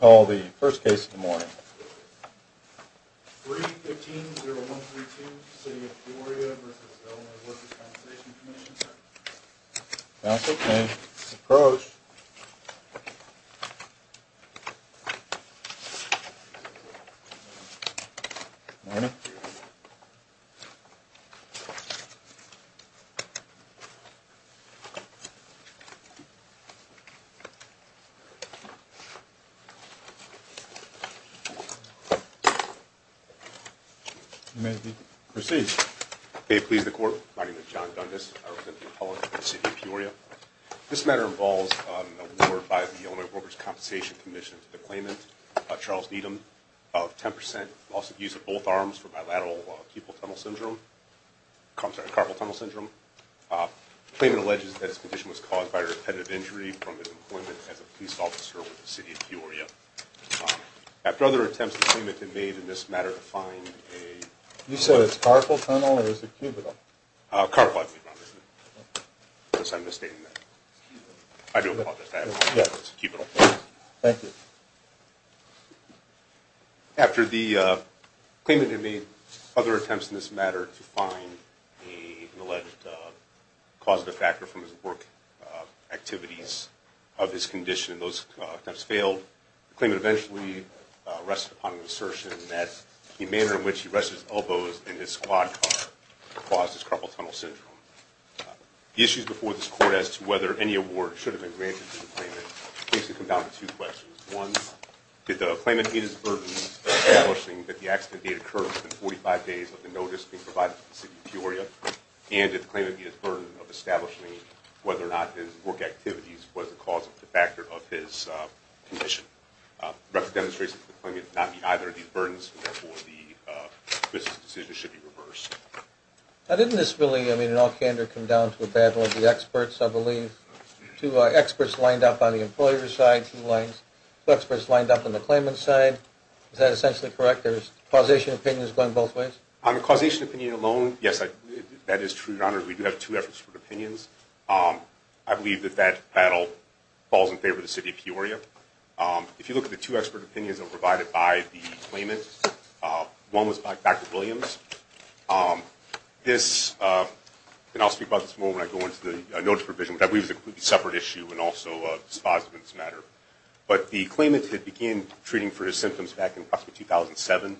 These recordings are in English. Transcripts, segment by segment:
morning. 3-15-0132, City of Peoria v. Workers' Compensation Comm'n. May it please the court, my name is John Dundas, I represent the appellant for the City of Peoria. This matter involves an award by the Illinois Workers' Compensation Commission to the claimant, Charles Needham, of 10% loss of use of both arms for bilateral carpal tunnel syndrome. The claimant alleges that his condition was caused by a repetitive injury from his employment as a police officer with the City of Peoria. After other attempts, the claimant had made in this matter to find a... You said it's carpal tunnel or is it cubital? Carpal, I believe, obviously. I guess I'm misstating that. I do apologize. I had no idea it was cubital. Thank you. After the claimant had made other attempts in this matter to find an alleged causative factor from his work activities of his condition and those attempts failed, the claimant eventually rested upon an assertion that the manner in which he rested his elbows in his squad car caused his carpal tunnel syndrome. The issues before this court as to whether any award should have been granted to the claimant basically come down to two questions. One, did the claimant meet his burden of establishing that the accident date occurred within 45 days of the notice being provided to the City of Peoria? And did the claimant meet his burden of establishing whether or not his work activities was the cause of the factor of his condition? The record demonstrates that the claimant did not meet either of these burdens, and therefore the business decision should be reversed. Now didn't this really, I mean, in all candor, come down to a battle of the experts, I believe? Two experts lined up on the employer's side, two experts lined up on the claimant's side. Is that essentially correct? There's causation opinions going both ways? On the causation opinion alone, yes, that is true, Your Honor. We do have two efforts for opinions. I believe that that battle falls in favor of the City of Peoria. If you look at the two expert opinions that were provided by the claimant, one was by Dr. Williams. This, and I'll speak about this more when I go into the notice provision, which I believe is a completely separate issue and also dispositive in this matter. But the claimant had began treating for his symptoms back in approximately 2007.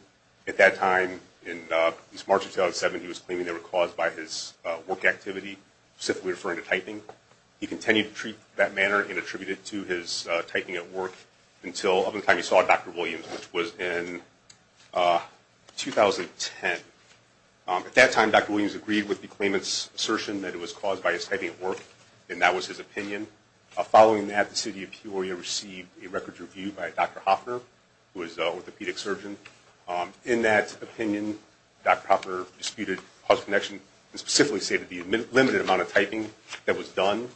At that time, in at least March of 2007, he was claiming they were caused by his work activity, specifically referring to typing. He continued to treat that manner and attribute it to his typing at work until, up until the time he saw Dr. Williams, which was in 2010. At that time, Dr. Williams agreed with the claimant's assertion that it was caused by his typing at work, and that was his opinion. Following that, the City of Peoria received a records review by Dr. Hoffner, who is an orthopedic surgeon. In that opinion, Dr. Hoffner disputed cause of connection, and specifically stated the limited amount of typing that was done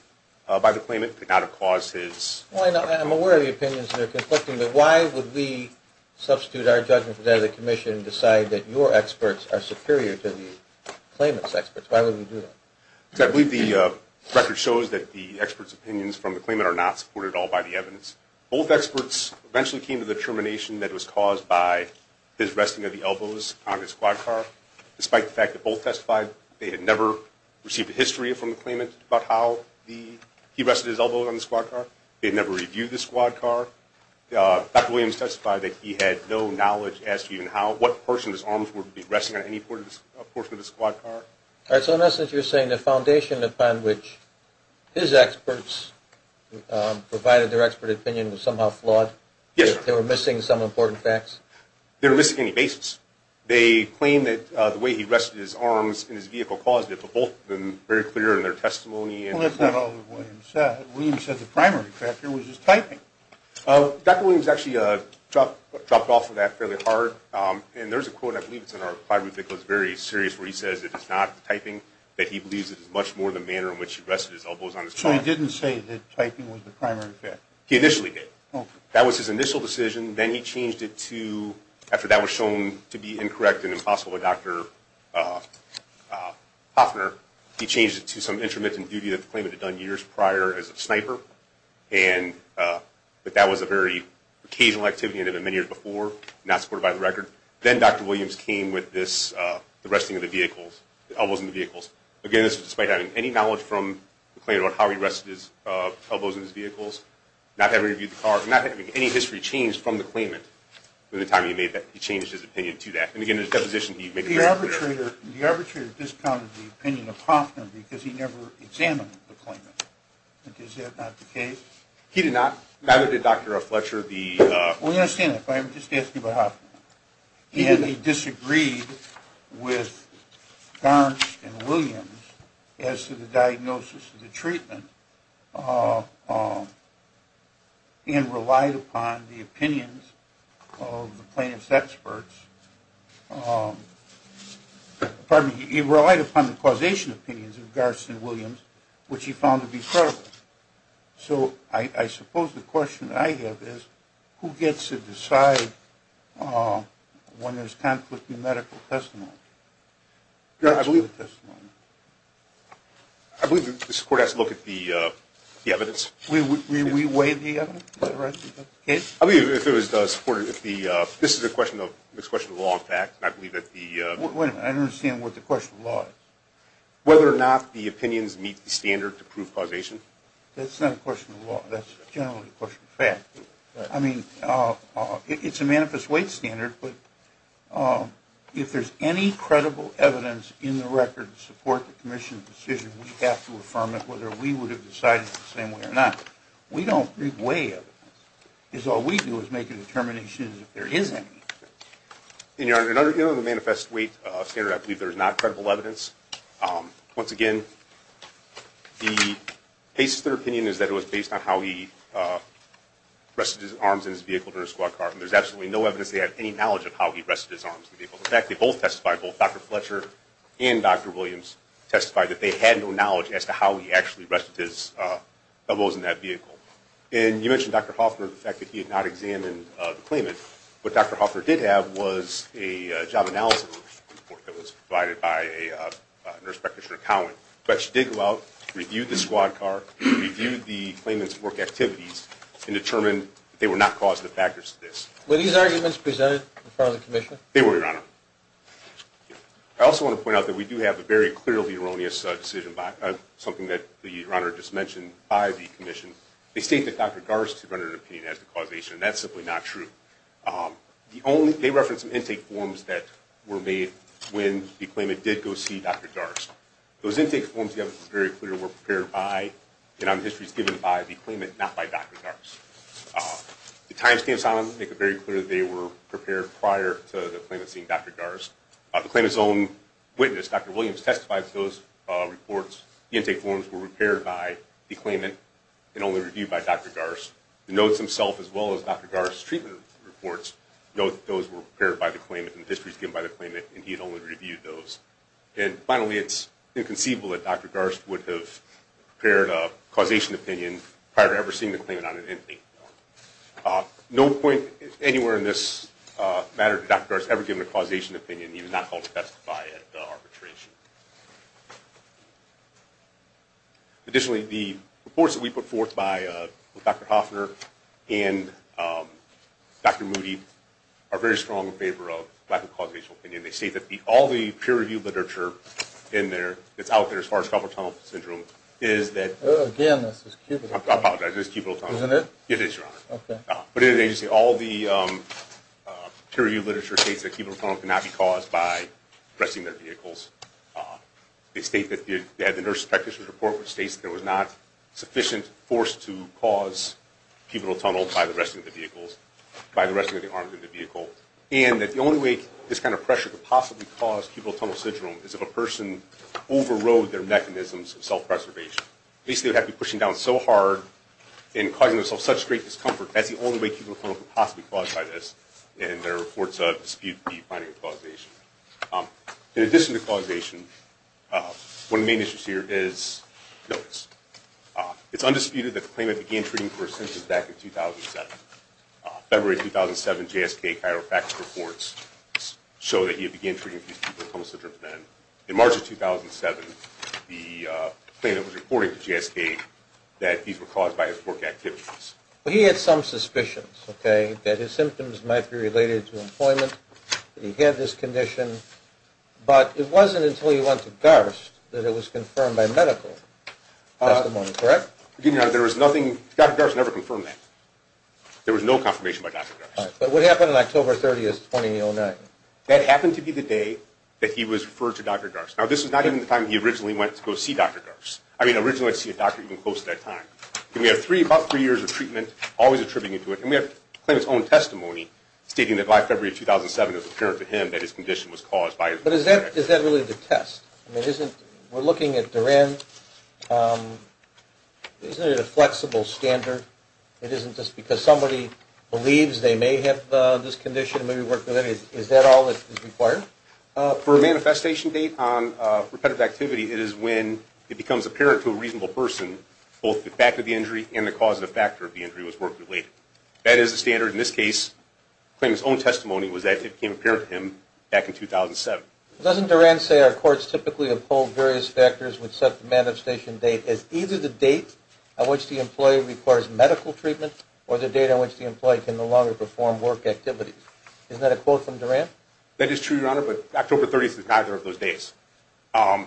by the claimant could not have caused his… Well, I'm aware of the opinions that are conflicting, but why would we substitute our judgment for that of the Commission and decide that your experts are superior to the claimant's experts? Why would we do that? Because I believe the record shows that the expert's opinions from the claimant are not supported at all by the evidence. Both experts eventually came to the determination that it was caused by his resting of the elbows on his squad car. Despite the fact that both testified, they had never received a history from the claimant about how he rested his elbows on the squad car. They had never reviewed the squad car. Dr. Williams testified that he had no knowledge as to even how, what portion of his arms would be resting on any portion of the squad car. All right, so in essence, you're saying the foundation upon which his experts provided their expert opinion was somehow flawed? Yes, sir. They were missing some important facts? They were missing any basis. They claimed that the way he rested his arms in his vehicle caused it, but both were very clear in their testimony. Well, that's not all that Williams said. Williams said the primary factor was his typing. Dr. Williams actually dropped off on that fairly hard. And there's a quote, I believe it's in our plywood vehicle, it's very serious, where he says it is not the typing, that he believes it is much more the manner in which he rested his elbows on his car. So he didn't say that typing was the primary factor? He initially did. Okay. That was his initial decision. Then he changed it to, after that was shown to be incorrect and impossible by Dr. Hoffner, he changed it to some intermittent duty that the claimant had done years prior as a sniper. But that was a very occasional activity and had been many years before, not supported by the record. Then Dr. Williams came with this, the resting of the vehicles, the elbows in the vehicles. Again, this was despite having any knowledge from the claimant on how he rested his elbows in his vehicles, not having reviewed the car, not having any history changed from the claimant. By the time he made that, he changed his opinion to that. And, again, in his deposition, he made the very clear. The arbitrator discounted the opinion of Hoffner because he never examined the claimant. Is that not the case? He did not? Neither did Dr. Fletcher. Well, you understand that, but I'm just asking about Hoffner. And he disagreed with Garns and Williams as to the diagnosis of the treatment Pardon me. He relied upon the causation opinions of Garns and Williams, which he found to be credible. So I suppose the question I have is, who gets to decide when there's conflict in medical testimony? I believe the court has to look at the evidence. We weigh the evidence? This is a question of law and fact. Wait a minute. I don't understand what the question of law is. Whether or not the opinions meet the standard to prove causation. That's not a question of law. That's generally a question of fact. I mean, it's a manifest weight standard. But if there's any credible evidence in the record to support the commission's decision, we have to affirm it whether we would have decided it the same way or not. We don't weigh evidence. Because all we do is make a determination as if there is any. Your Honor, in the manifest weight standard, I believe there is not credible evidence. Once again, the basis of their opinion is that it was based on how he rested his arms in his vehicle during a squad car. And there's absolutely no evidence they had any knowledge of how he rested his arms in the vehicle. In fact, they both testified, both Dr. Fletcher and Dr. Williams testified, that they had no knowledge as to how he actually rested his elbows in that vehicle. And you mentioned, Dr. Hoffner, the fact that he had not examined the claimant. What Dr. Hoffner did have was a job analysis report that was provided by a nurse practitioner, but she did go out, reviewed the squad car, reviewed the claimant's work activities, and determined they were not causative factors to this. Were these arguments presented in front of the commission? They were, Your Honor. I also want to point out that we do have a very clearly erroneous decision, something that Your Honor just mentioned by the commission. They state that Dr. Darst rendered an opinion as the causation, and that's simply not true. They referenced some intake forms that were made when the claimant did go see Dr. Darst. Those intake forms, Your Honor, were very clear, were prepared by, and on the histories given by the claimant, not by Dr. Darst. The timestamps on them make it very clear that they were prepared prior to the claimant seeing Dr. Darst. The claimant's own witness, Dr. Williams, testified that those reports, the intake forms, were prepared by the claimant and only reviewed by Dr. Darst. The notes themselves, as well as Dr. Darst's treatment reports, note that those were prepared by the claimant and the histories given by the claimant, and he had only reviewed those. And finally, it's inconceivable that Dr. Darst would have prepared a causation opinion prior to ever seeing the claimant on an intake form. No point anywhere in this matter to Dr. Darst ever giving a causation opinion. He was not called to testify at arbitration. Additionally, the reports that we put forth by Dr. Hoffner and Dr. Moody are very strong in favor of lack of causational opinion. They state that all the peer-reviewed literature in there that's out there as far as carpal tunnel syndrome is that Again, this is cubital tunnel. I apologize, this is cubital tunnel. Isn't it? It is, Your Honor. Okay. But in an agency, all the peer-reviewed literature states that cubital tunnel cannot be caused by arresting their vehicles. They state that they had the nurse's practitioner's report, which states that there was not sufficient force to cause cubital tunnel by the arresting of the vehicles, by the arresting of the arms of the vehicle, and that the only way this kind of pressure could possibly cause cubital tunnel syndrome is if a person overrode their mechanisms of self-preservation. Basically, they would have to be pushing down so hard and causing themselves such great discomfort. That's the only way cubital tunnel could possibly be caused by this, and there are reports that dispute the finding of causation. In addition to causation, one of the main issues here is notice. It's undisputed that the claimant began treating for asymptoms back in 2007. February 2007, JSK Chiropractic reports show that he had began treating for cubital tunnel syndrome then. In March of 2007, the claimant was reporting to JSK that these were caused by his work activities. He had some suspicions, okay, that his symptoms might be related to employment, that he had this condition, but it wasn't until he went to Garst that it was confirmed by medical testimony, correct? Dr. Garst never confirmed that. There was no confirmation by Dr. Garst. All right, but what happened on October 30th, 2009? That happened to be the day that he was referred to Dr. Garst. Now, this was not even the time he originally went to go see Dr. Garst. I mean, originally he went to see a doctor even close to that time. We have about three years of treatment, always attributing it to it, and we have the claimant's own testimony stating that by February 2007, it was apparent to him that his condition was caused by his work activities. But is that really the test? I mean, we're looking at Duran. Isn't it a flexible standard? It isn't just because somebody believes they may have this condition and maybe work with it. Is that all that is required? For a manifestation date on repetitive activity, it is when it becomes apparent to a reasonable person both the fact of the injury and the causative factor of the injury was work-related. That is the standard in this case. The claimant's own testimony was that it became apparent to him back in 2007. Doesn't Duran say our courts typically uphold various factors which set the manifestation date as either the date on which the employee requires medical treatment or the date on which the employee can no longer perform work activities? Isn't that a quote from Duran? That is true, Your Honor, but October 30th is neither of those dates. Why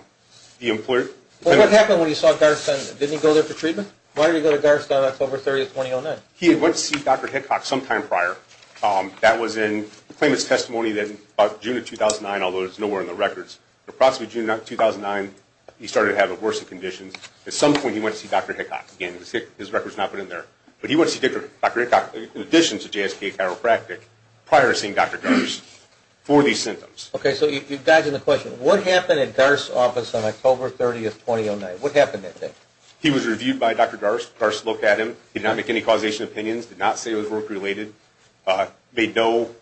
did he go to DARS on October 30th, 2009? He went to see Dr. Hickock sometime prior. That was in the claimant's testimony in June of 2009, although it is nowhere in the records. Approximately June of 2009, he started to have worsening conditions. At some point, he went to see Dr. Hickock. Again, his record is not put in there. But he went to see Dr. Hickock in addition to JSK Chiropractic prior to seeing Dr. Dars for these symptoms. Okay, so you're dodging the question. What happened at DARS' office on October 30th, 2009? What happened that day? He was reviewed by Dr. Dars. Dars looked at him. He did not make any causation opinions, did not say it was work-related, made no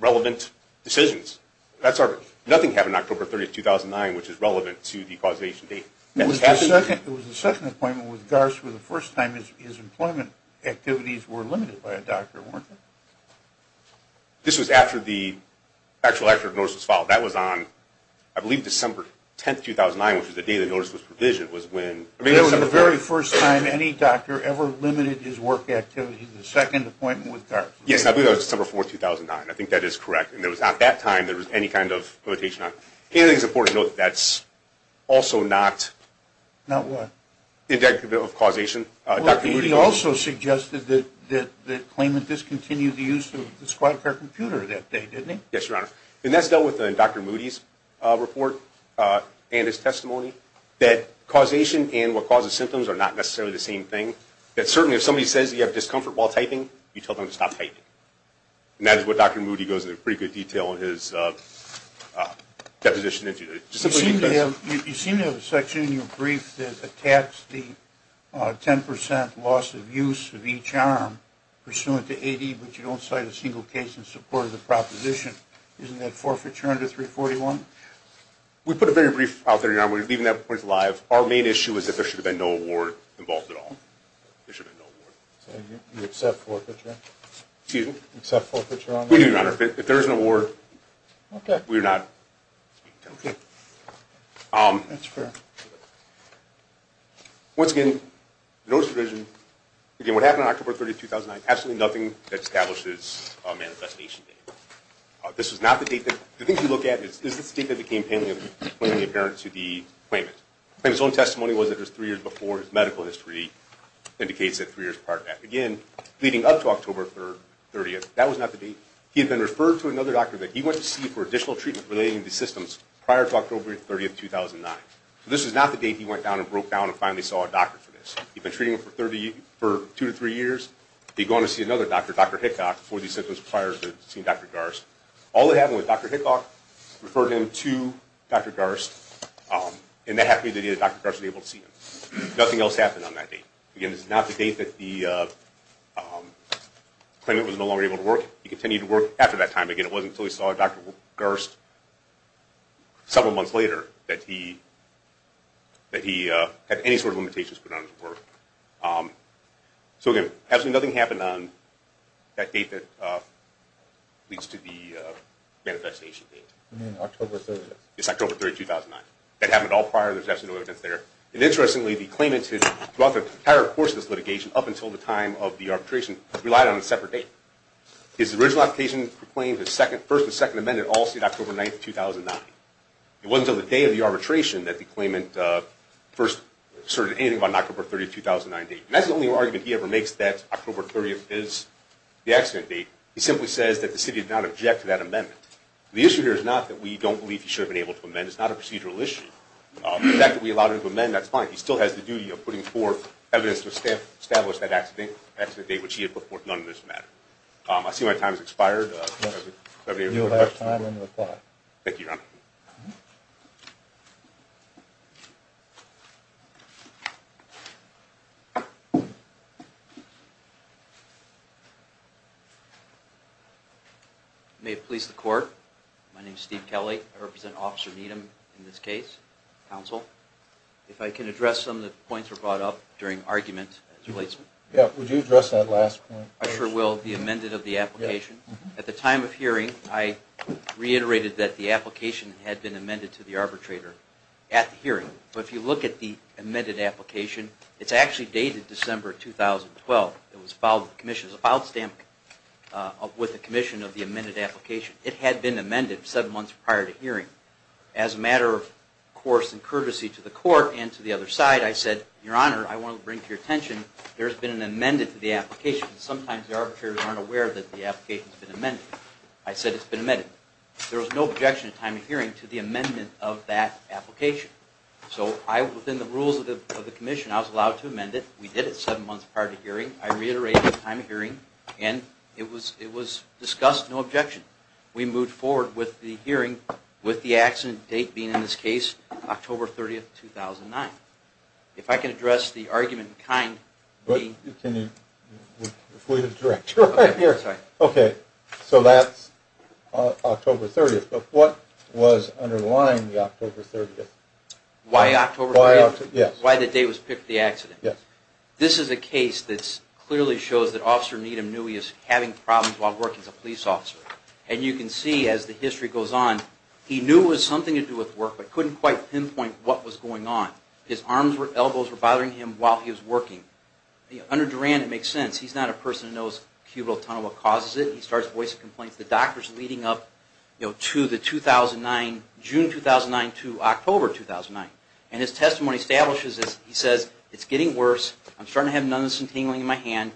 relevant decisions. Nothing happened October 30th, 2009, which is relevant to the causation date. It was the second appointment with Dars where the first time his employment activities were limited by a doctor, weren't they? This was after the actual actual notice was filed. That was on, I believe, December 10th, 2009, which was the day the notice was provisioned. It was the very first time any doctor ever limited his work activities, the second appointment with Dars. Yes, I believe that was December 4th, 2009. I think that is correct. And it was not that time there was any kind of limitation on it. It is important to note that that's also not indicative of causation. Dr. Moody also suggested that the claimant discontinued the use of the squad car computer that day, didn't he? Yes, Your Honor. And that's dealt with in Dr. Moody's report and his testimony, that causation and what causes symptoms are not necessarily the same thing. That certainly if somebody says you have discomfort while typing, you tell them to stop typing. And that is what Dr. Moody goes into pretty good detail in his deposition. You seem to have a section in your brief that attacks the 10% loss of use of each arm pursuant to AD, but you don't cite a single case in support of the proposition. Isn't that forfeiture under 341? We put a very brief out there, Your Honor. We're leaving that brief live. Our main issue is that there should have been no award involved at all. There should have been no award. So you accept forfeiture? Excuse me? You accept forfeiture on that? We do, Your Honor. If there is an award, we are not speaking to it. That's fair. Once again, the notice provision, again, what happened on October 30, 2009, absolutely nothing that establishes a manifestation date. This is not the date. The thing to look at is the state that became apparent to the claimant. The claimant's own testimony was that it was three years before. His medical history indicates that three years prior to that. Again, leading up to October 30, that was not the date. He had been referred to another doctor that he went to see for additional treatment relating to the systems prior to October 30, 2009. This is not the date he went down and broke down and finally saw a doctor for this. He'd been treating him for two to three years. He'd gone to see another doctor, Dr. Hickok, for these symptoms prior to seeing Dr. Garst. All that happened was Dr. Hickok referred him to Dr. Garst, and that happened the day that Dr. Garst was able to see him. Nothing else happened on that date. Again, this is not the date that the claimant was no longer able to work. He continued to work after that time. Again, it wasn't until he saw Dr. Garst several months later that he had any sort of limitations put on his work. So, again, absolutely nothing happened on that date that leads to the manifestation date. You mean October 30th? Yes, October 30, 2009. That happened all prior. There's absolutely no evidence there. And interestingly, the claimant throughout the entire course of this litigation, up until the time of the arbitration, relied on a separate date. His original application for claim, his first and second amendment, all stayed October 9, 2009. It wasn't until the day of the arbitration that the claimant first asserted anything about an October 30, 2009 date. And that's the only argument he ever makes, that October 30th is the accident date. He simply says that the city did not object to that amendment. The issue here is not that we don't believe he should have been able to amend. It's not a procedural issue. The fact that we allowed him to amend, that's fine. He still has the duty of putting forth evidence to establish that accident date, which he had put forth none of this matter. I see my time has expired. You'll have time to reply. Thank you, Your Honor. May it please the Court, my name is Steve Kelly. I represent Officer Needham in this case, counsel. If I can address some of the points that were brought up during argument. Yeah, would you address that last point? I sure will, the amended of the application. At the time of hearing, I reiterated that the application had been amended to the arbitrator at the hearing. But if you look at the amended application, it's actually dated December 2012. It was filed with the Commission. It was filed with the Commission of the amended application. It had been amended seven months prior to hearing. As a matter of course and courtesy to the Court and to the other side, I said, Your Honor, I want to bring to your attention, there's been an amended to the application. Sometimes the arbitrators aren't aware that the application's been amended. I said it's been amended. There was no objection at time of hearing to the amendment of that application. So within the rules of the Commission, I was allowed to amend it. We did it seven months prior to hearing. I reiterated at time of hearing, and it was discussed, no objection. We moved forward with the hearing with the accident date being in this case, October 30, 2009. If I can address the argument in kind. Can you? We have a director right here. Okay. So that's October 30th. But what was underlying the October 30th? Why October 30th? Yes. Why the date was picked for the accident? Yes. This is a case that clearly shows that Officer Needham knew he was having problems while working as a police officer. And you can see as the history goes on, he knew it was something to do with work, but couldn't quite pinpoint what was going on. His arms and elbows were bothering him while he was working. Under Duran, it makes sense. He's not a person who knows cubital tunnel, what causes it. He starts voicing complaints. The doctor is leading up to the 2009, June 2009 to October 2009. And his testimony establishes this. He says, it's getting worse. I'm starting to have numbness and tingling in my hand.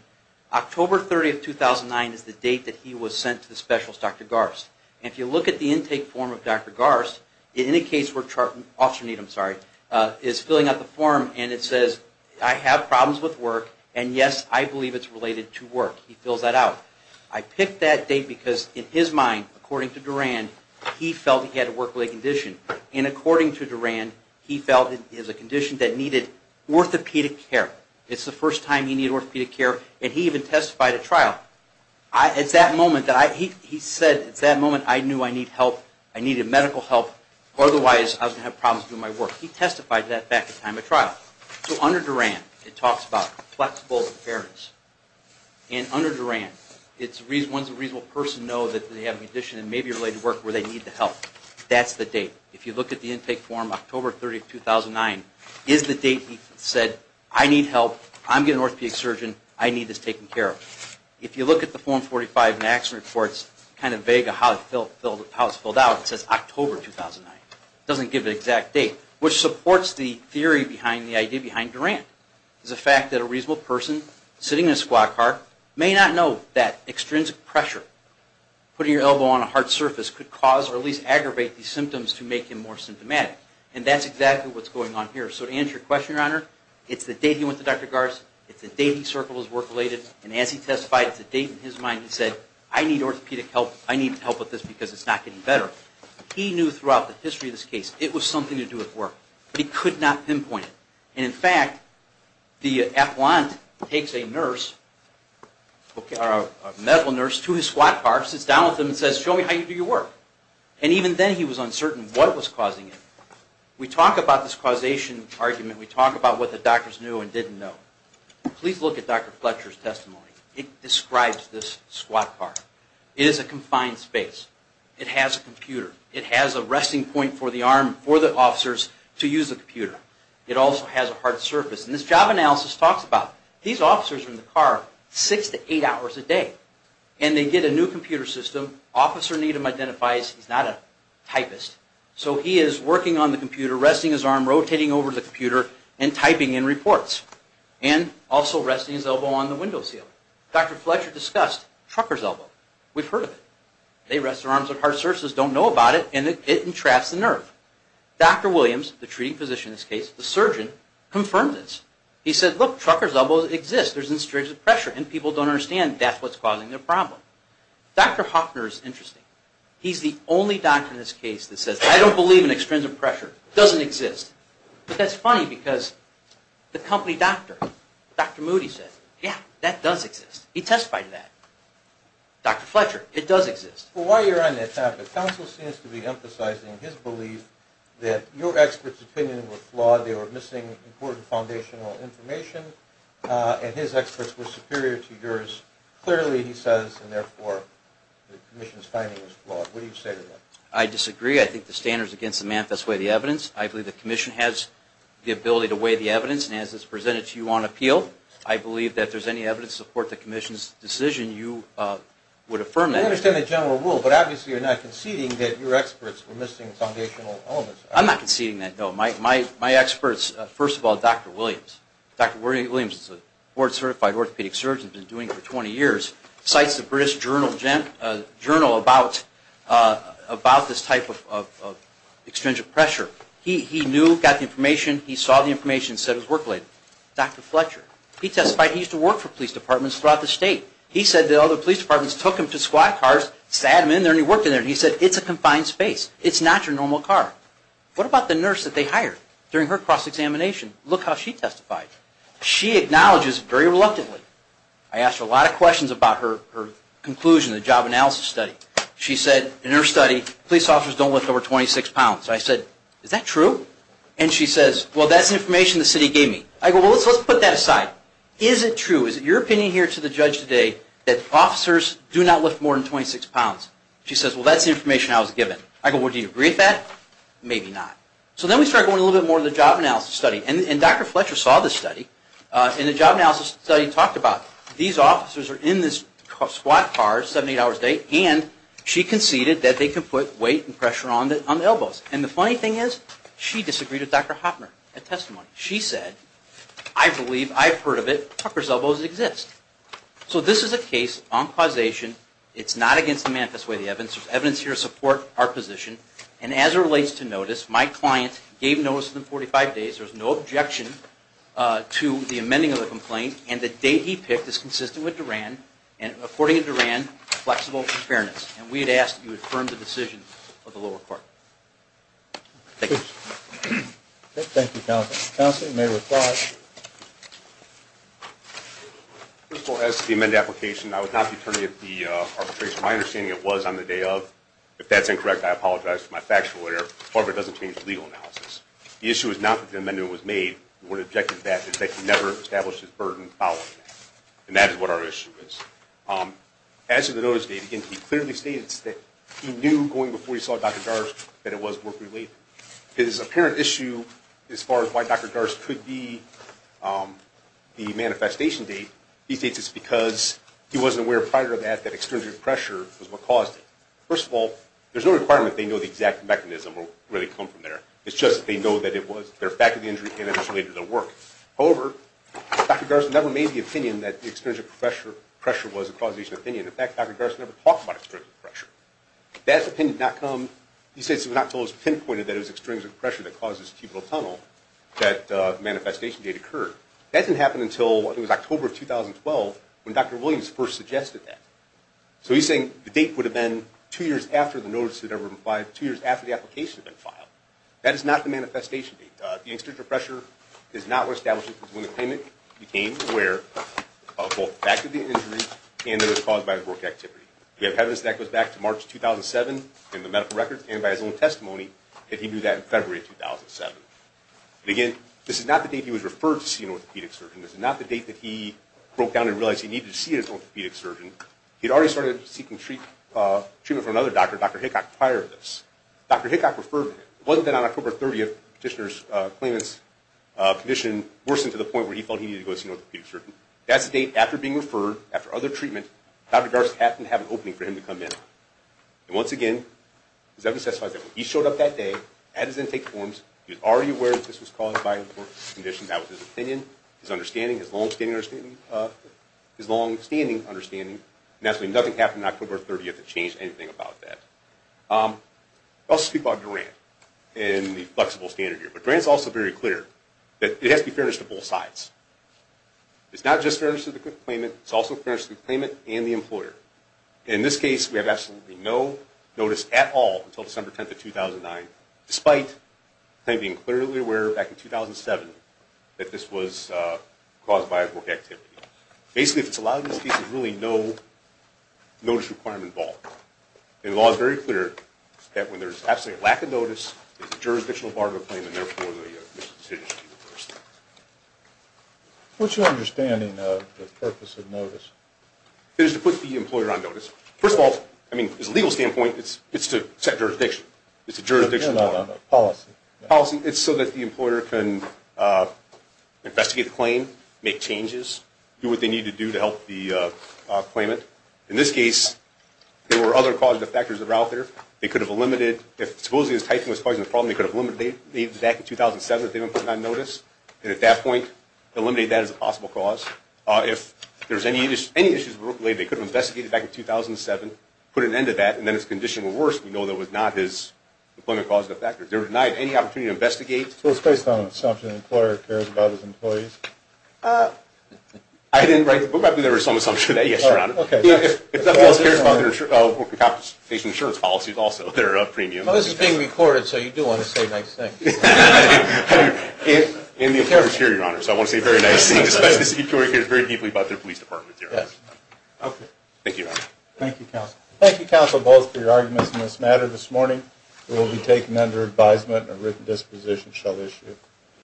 October 30th, 2009 is the date that he was sent to the specialist, Dr. Garst. And if you look at the intake form of Dr. Garst, in any case where Officer Needham is filling out the form and it says, I have problems with work, and yes, I believe it's related to work. He fills that out. I picked that date because in his mind, according to Duran, he felt he had a work-related condition. And according to Duran, he felt it was a condition that needed orthopedic care. It's the first time he needed orthopedic care. And he even testified at trial. It's that moment that he said, it's that moment I knew I need help. I needed medical help. Otherwise, I was going to have problems doing my work. He testified to that back at time of trial. So under Duran, it talks about flexible appearance. And under Duran, once a reasonable person knows that they have a condition that may be related to work where they need the help, that's the date. If you look at the intake form, October 30th, 2009 is the date he said, I need help. I'm getting an orthopedic surgeon. I need this taken care of. If you look at the form 45 in the action reports, kind of vague of how it's filled out, it says October 2009. It doesn't give an exact date, which supports the theory behind the idea behind Duran. It's the fact that a reasonable person sitting in a squad car may not know that extrinsic pressure, putting your elbow on a hard surface, could cause or at least aggravate the symptoms to make him more symptomatic. And that's exactly what's going on here. So to answer your question, Your Honor, it's the date he went to Dr. Fletcher, and as he testified, it's the date in his mind he said, I need orthopedic help. I need help with this because it's not getting better. He knew throughout the history of this case, it was something to do with work. But he could not pinpoint it. And in fact, the affluent takes a nurse, a medical nurse, to his squad car, sits down with him and says, show me how you do your work. And even then he was uncertain what was causing it. We talk about this causation argument. We talk about what the doctors knew and didn't know. Please look at Dr. Fletcher's testimony. It describes this squad car. It is a confined space. It has a computer. It has a resting point for the arm for the officers to use the computer. It also has a hard surface. And this job analysis talks about these officers are in the car six to eight hours a day. And they get a new computer system. Officer Needham identifies he's not a typist. So he is working on the computer, resting his arm, rotating over to the computer, and also resting his elbow on the window sill. Dr. Fletcher discussed Trucker's elbow. We've heard of it. They rest their arms on hard surfaces, don't know about it, and it entraps the nerve. Dr. Williams, the treating physician in this case, the surgeon, confirmed this. He said, look, Trucker's elbow exists. There's an extrinsic pressure. And people don't understand that's what's causing the problem. Dr. Hoffner is interesting. He's the only doctor in this case that says, I don't believe in extrinsic pressure. It doesn't exist. But that's funny because the company doctor, Dr. Moody, said, yeah, that does exist. He testified to that. Dr. Fletcher, it does exist. Well, while you're on that topic, counsel seems to be emphasizing his belief that your experts' opinion was flawed. They were missing important foundational information. And his experts were superior to yours. Clearly, he says, and therefore, the commission's finding was flawed. What do you say to that? I disagree. I think the standards against the man best weigh the evidence. I believe the commission has the ability to weigh the evidence. And as it's presented to you on appeal, I believe that if there's any evidence to support the commission's decision, you would affirm that. I understand the general rule. But obviously, you're not conceding that your experts were missing foundational elements. I'm not conceding that, no. My experts, first of all, Dr. Williams. Dr. Williams is a board-certified orthopedic surgeon. He's been doing it for 20 years. Cites the British Journal about this type of extrinsic pressure. He knew, got the information, he saw the information and said it was work-related. Dr. Fletcher, he testified he used to work for police departments throughout the state. He said that other police departments took him to squad cars, sat him in there, and he worked in there. And he said, it's a confined space. It's not your normal car. What about the nurse that they hired during her cross-examination? Look how she testified. She acknowledges very reluctantly. I asked her a lot of questions about her conclusion in the job analysis study. She said, in her study, police officers don't lift over 26 pounds. I said, is that true? And she says, well, that's the information the city gave me. I go, well, let's put that aside. Is it true? Is it your opinion here to the judge today that officers do not lift more than 26 pounds? She says, well, that's the information I was given. I go, well, do you agree with that? Maybe not. So then we start going a little bit more into the job analysis study. And Dr. Fletcher saw this study. And the job analysis study talked about these officers are in this squad car, seven, eight hours a day, and she conceded that they could put weight and pressure on the elbows. And the funny thing is, she disagreed with Dr. Hopner at testimony. She said, I believe, I've heard of it, Tucker's elbows exist. So this is a case on causation. It's not against the manifest way of the evidence. There's evidence here to support our position. And as it relates to notice, my client gave notice within 45 days. There was no objection to the amending of the complaint. And the date he picked is consistent with Duran. And according to Duran, flexible and fairness. And we had asked that you affirm the decision of the lower court. Thank you. Thank you, Counselor. Counselor, you may reply. First of all, as to the amended application, I was not the attorney of the arbitration. My understanding, it was on the day of. If that's incorrect, I apologize for my factual error. However, it doesn't change the legal analysis. The issue is not that the amendment was made. What objected to that is that he never established his burden following that. And that is what our issue is. As to the notice date, he clearly states that he knew going before he saw Dr. Garz that it was work-related. His apparent issue as far as why Dr. Garz could be the manifestation date, he states it's because he wasn't aware prior to that that extrinsic pressure was what caused it. First of all, there's no requirement they know the exact mechanism or where they come from there. It's just that they know that it was their faculty injury and it was related to their work. However, Dr. Garz never made the opinion that the extrinsic pressure was a causation opinion. In fact, Dr. Garz never talked about extrinsic pressure. That opinion did not come. He states it was not until it was pinpointed that it was extrinsic pressure that caused this cubital tunnel that the manifestation date occurred. That didn't happen until it was October of 2012 when Dr. Williams first suggested that. So he's saying the date would have been two years after the notice had ever been filed, two years after the application had been filed. That is not the manifestation date. The extrinsic pressure is not what establishes when the claimant became aware of both the fact of the injury and that it was caused by his work activity. We have evidence that goes back to March 2007 in the medical records and by his own testimony that he knew that in February 2007. Again, this is not the date he was referred to see an orthopedic surgeon. This is not the date that he broke down and realized he needed to see his orthopedic surgeon. He had already started seeking treatment from another doctor, Dr. Hickock, prior to this. Dr. Hickock referred him. It wasn't that on October 30th petitioner's claimant's condition worsened to the point where he felt he needed to go see an orthopedic surgeon. That's the date after being referred, after other treatment, Dr. Garza happened to have an opening for him to come in. And once again, his evidence testifies that when he showed up that day, had his intake forms, he was already aware that this was caused by an important condition. That was his opinion, his understanding, his longstanding understanding. Nothing happened on October 30th that changed anything about that. I'll speak about grant and the flexible standard here. But grant is also very clear that it has to be furnished to both sides. It's not just furnished to the claimant. It's also furnished to the claimant and the employer. In this case, we have absolutely no notice at all until December 10th of 2009, despite them being clearly aware back in 2007 that this was caused by a work activity. Basically, if it's allowed in this case, there's really no notice requirement involved. And the law is very clear that when there's absolutely a lack of notice, it's a jurisdictional bargain claim, and therefore the decision should be reversed. What's your understanding of the purpose of notice? It is to put the employer on notice. First of all, I mean, as a legal standpoint, it's to set jurisdiction. It's a jurisdictional bargain. No, no, no, policy. Policy. It's so that the employer can investigate the claim, make changes, do what they need to do to help the claimant. In this case, there were other causative factors that were out there. They could have eliminated, if supposedly his typing was causing the problem, they could have eliminated it back in 2007 if they were put on notice. And at that point, eliminate that as a possible cause. If there was any issues with work related, they could have investigated it back in 2007, put an end to that, and then if his condition were worse, we know that was not his employment causative factor. They were denied any opportunity to investigate. So it's based on an assumption the employer cares about his employees? I didn't write the book, but there was some assumption that, yes, Your Honor. If nothing else cares about their insurance policies, also, they're a premium. Well, this is being recorded, so you do want to say nice things. And the attorney is here, Your Honor, so I want to say very nice things, especially since he cares very deeply about their police department, Your Honor. Yes. Thank you, Your Honor. Thank you, counsel. Thank you, counsel, both, for your arguments in this matter this morning. It will be taken under advisement and a written disposition shall issue.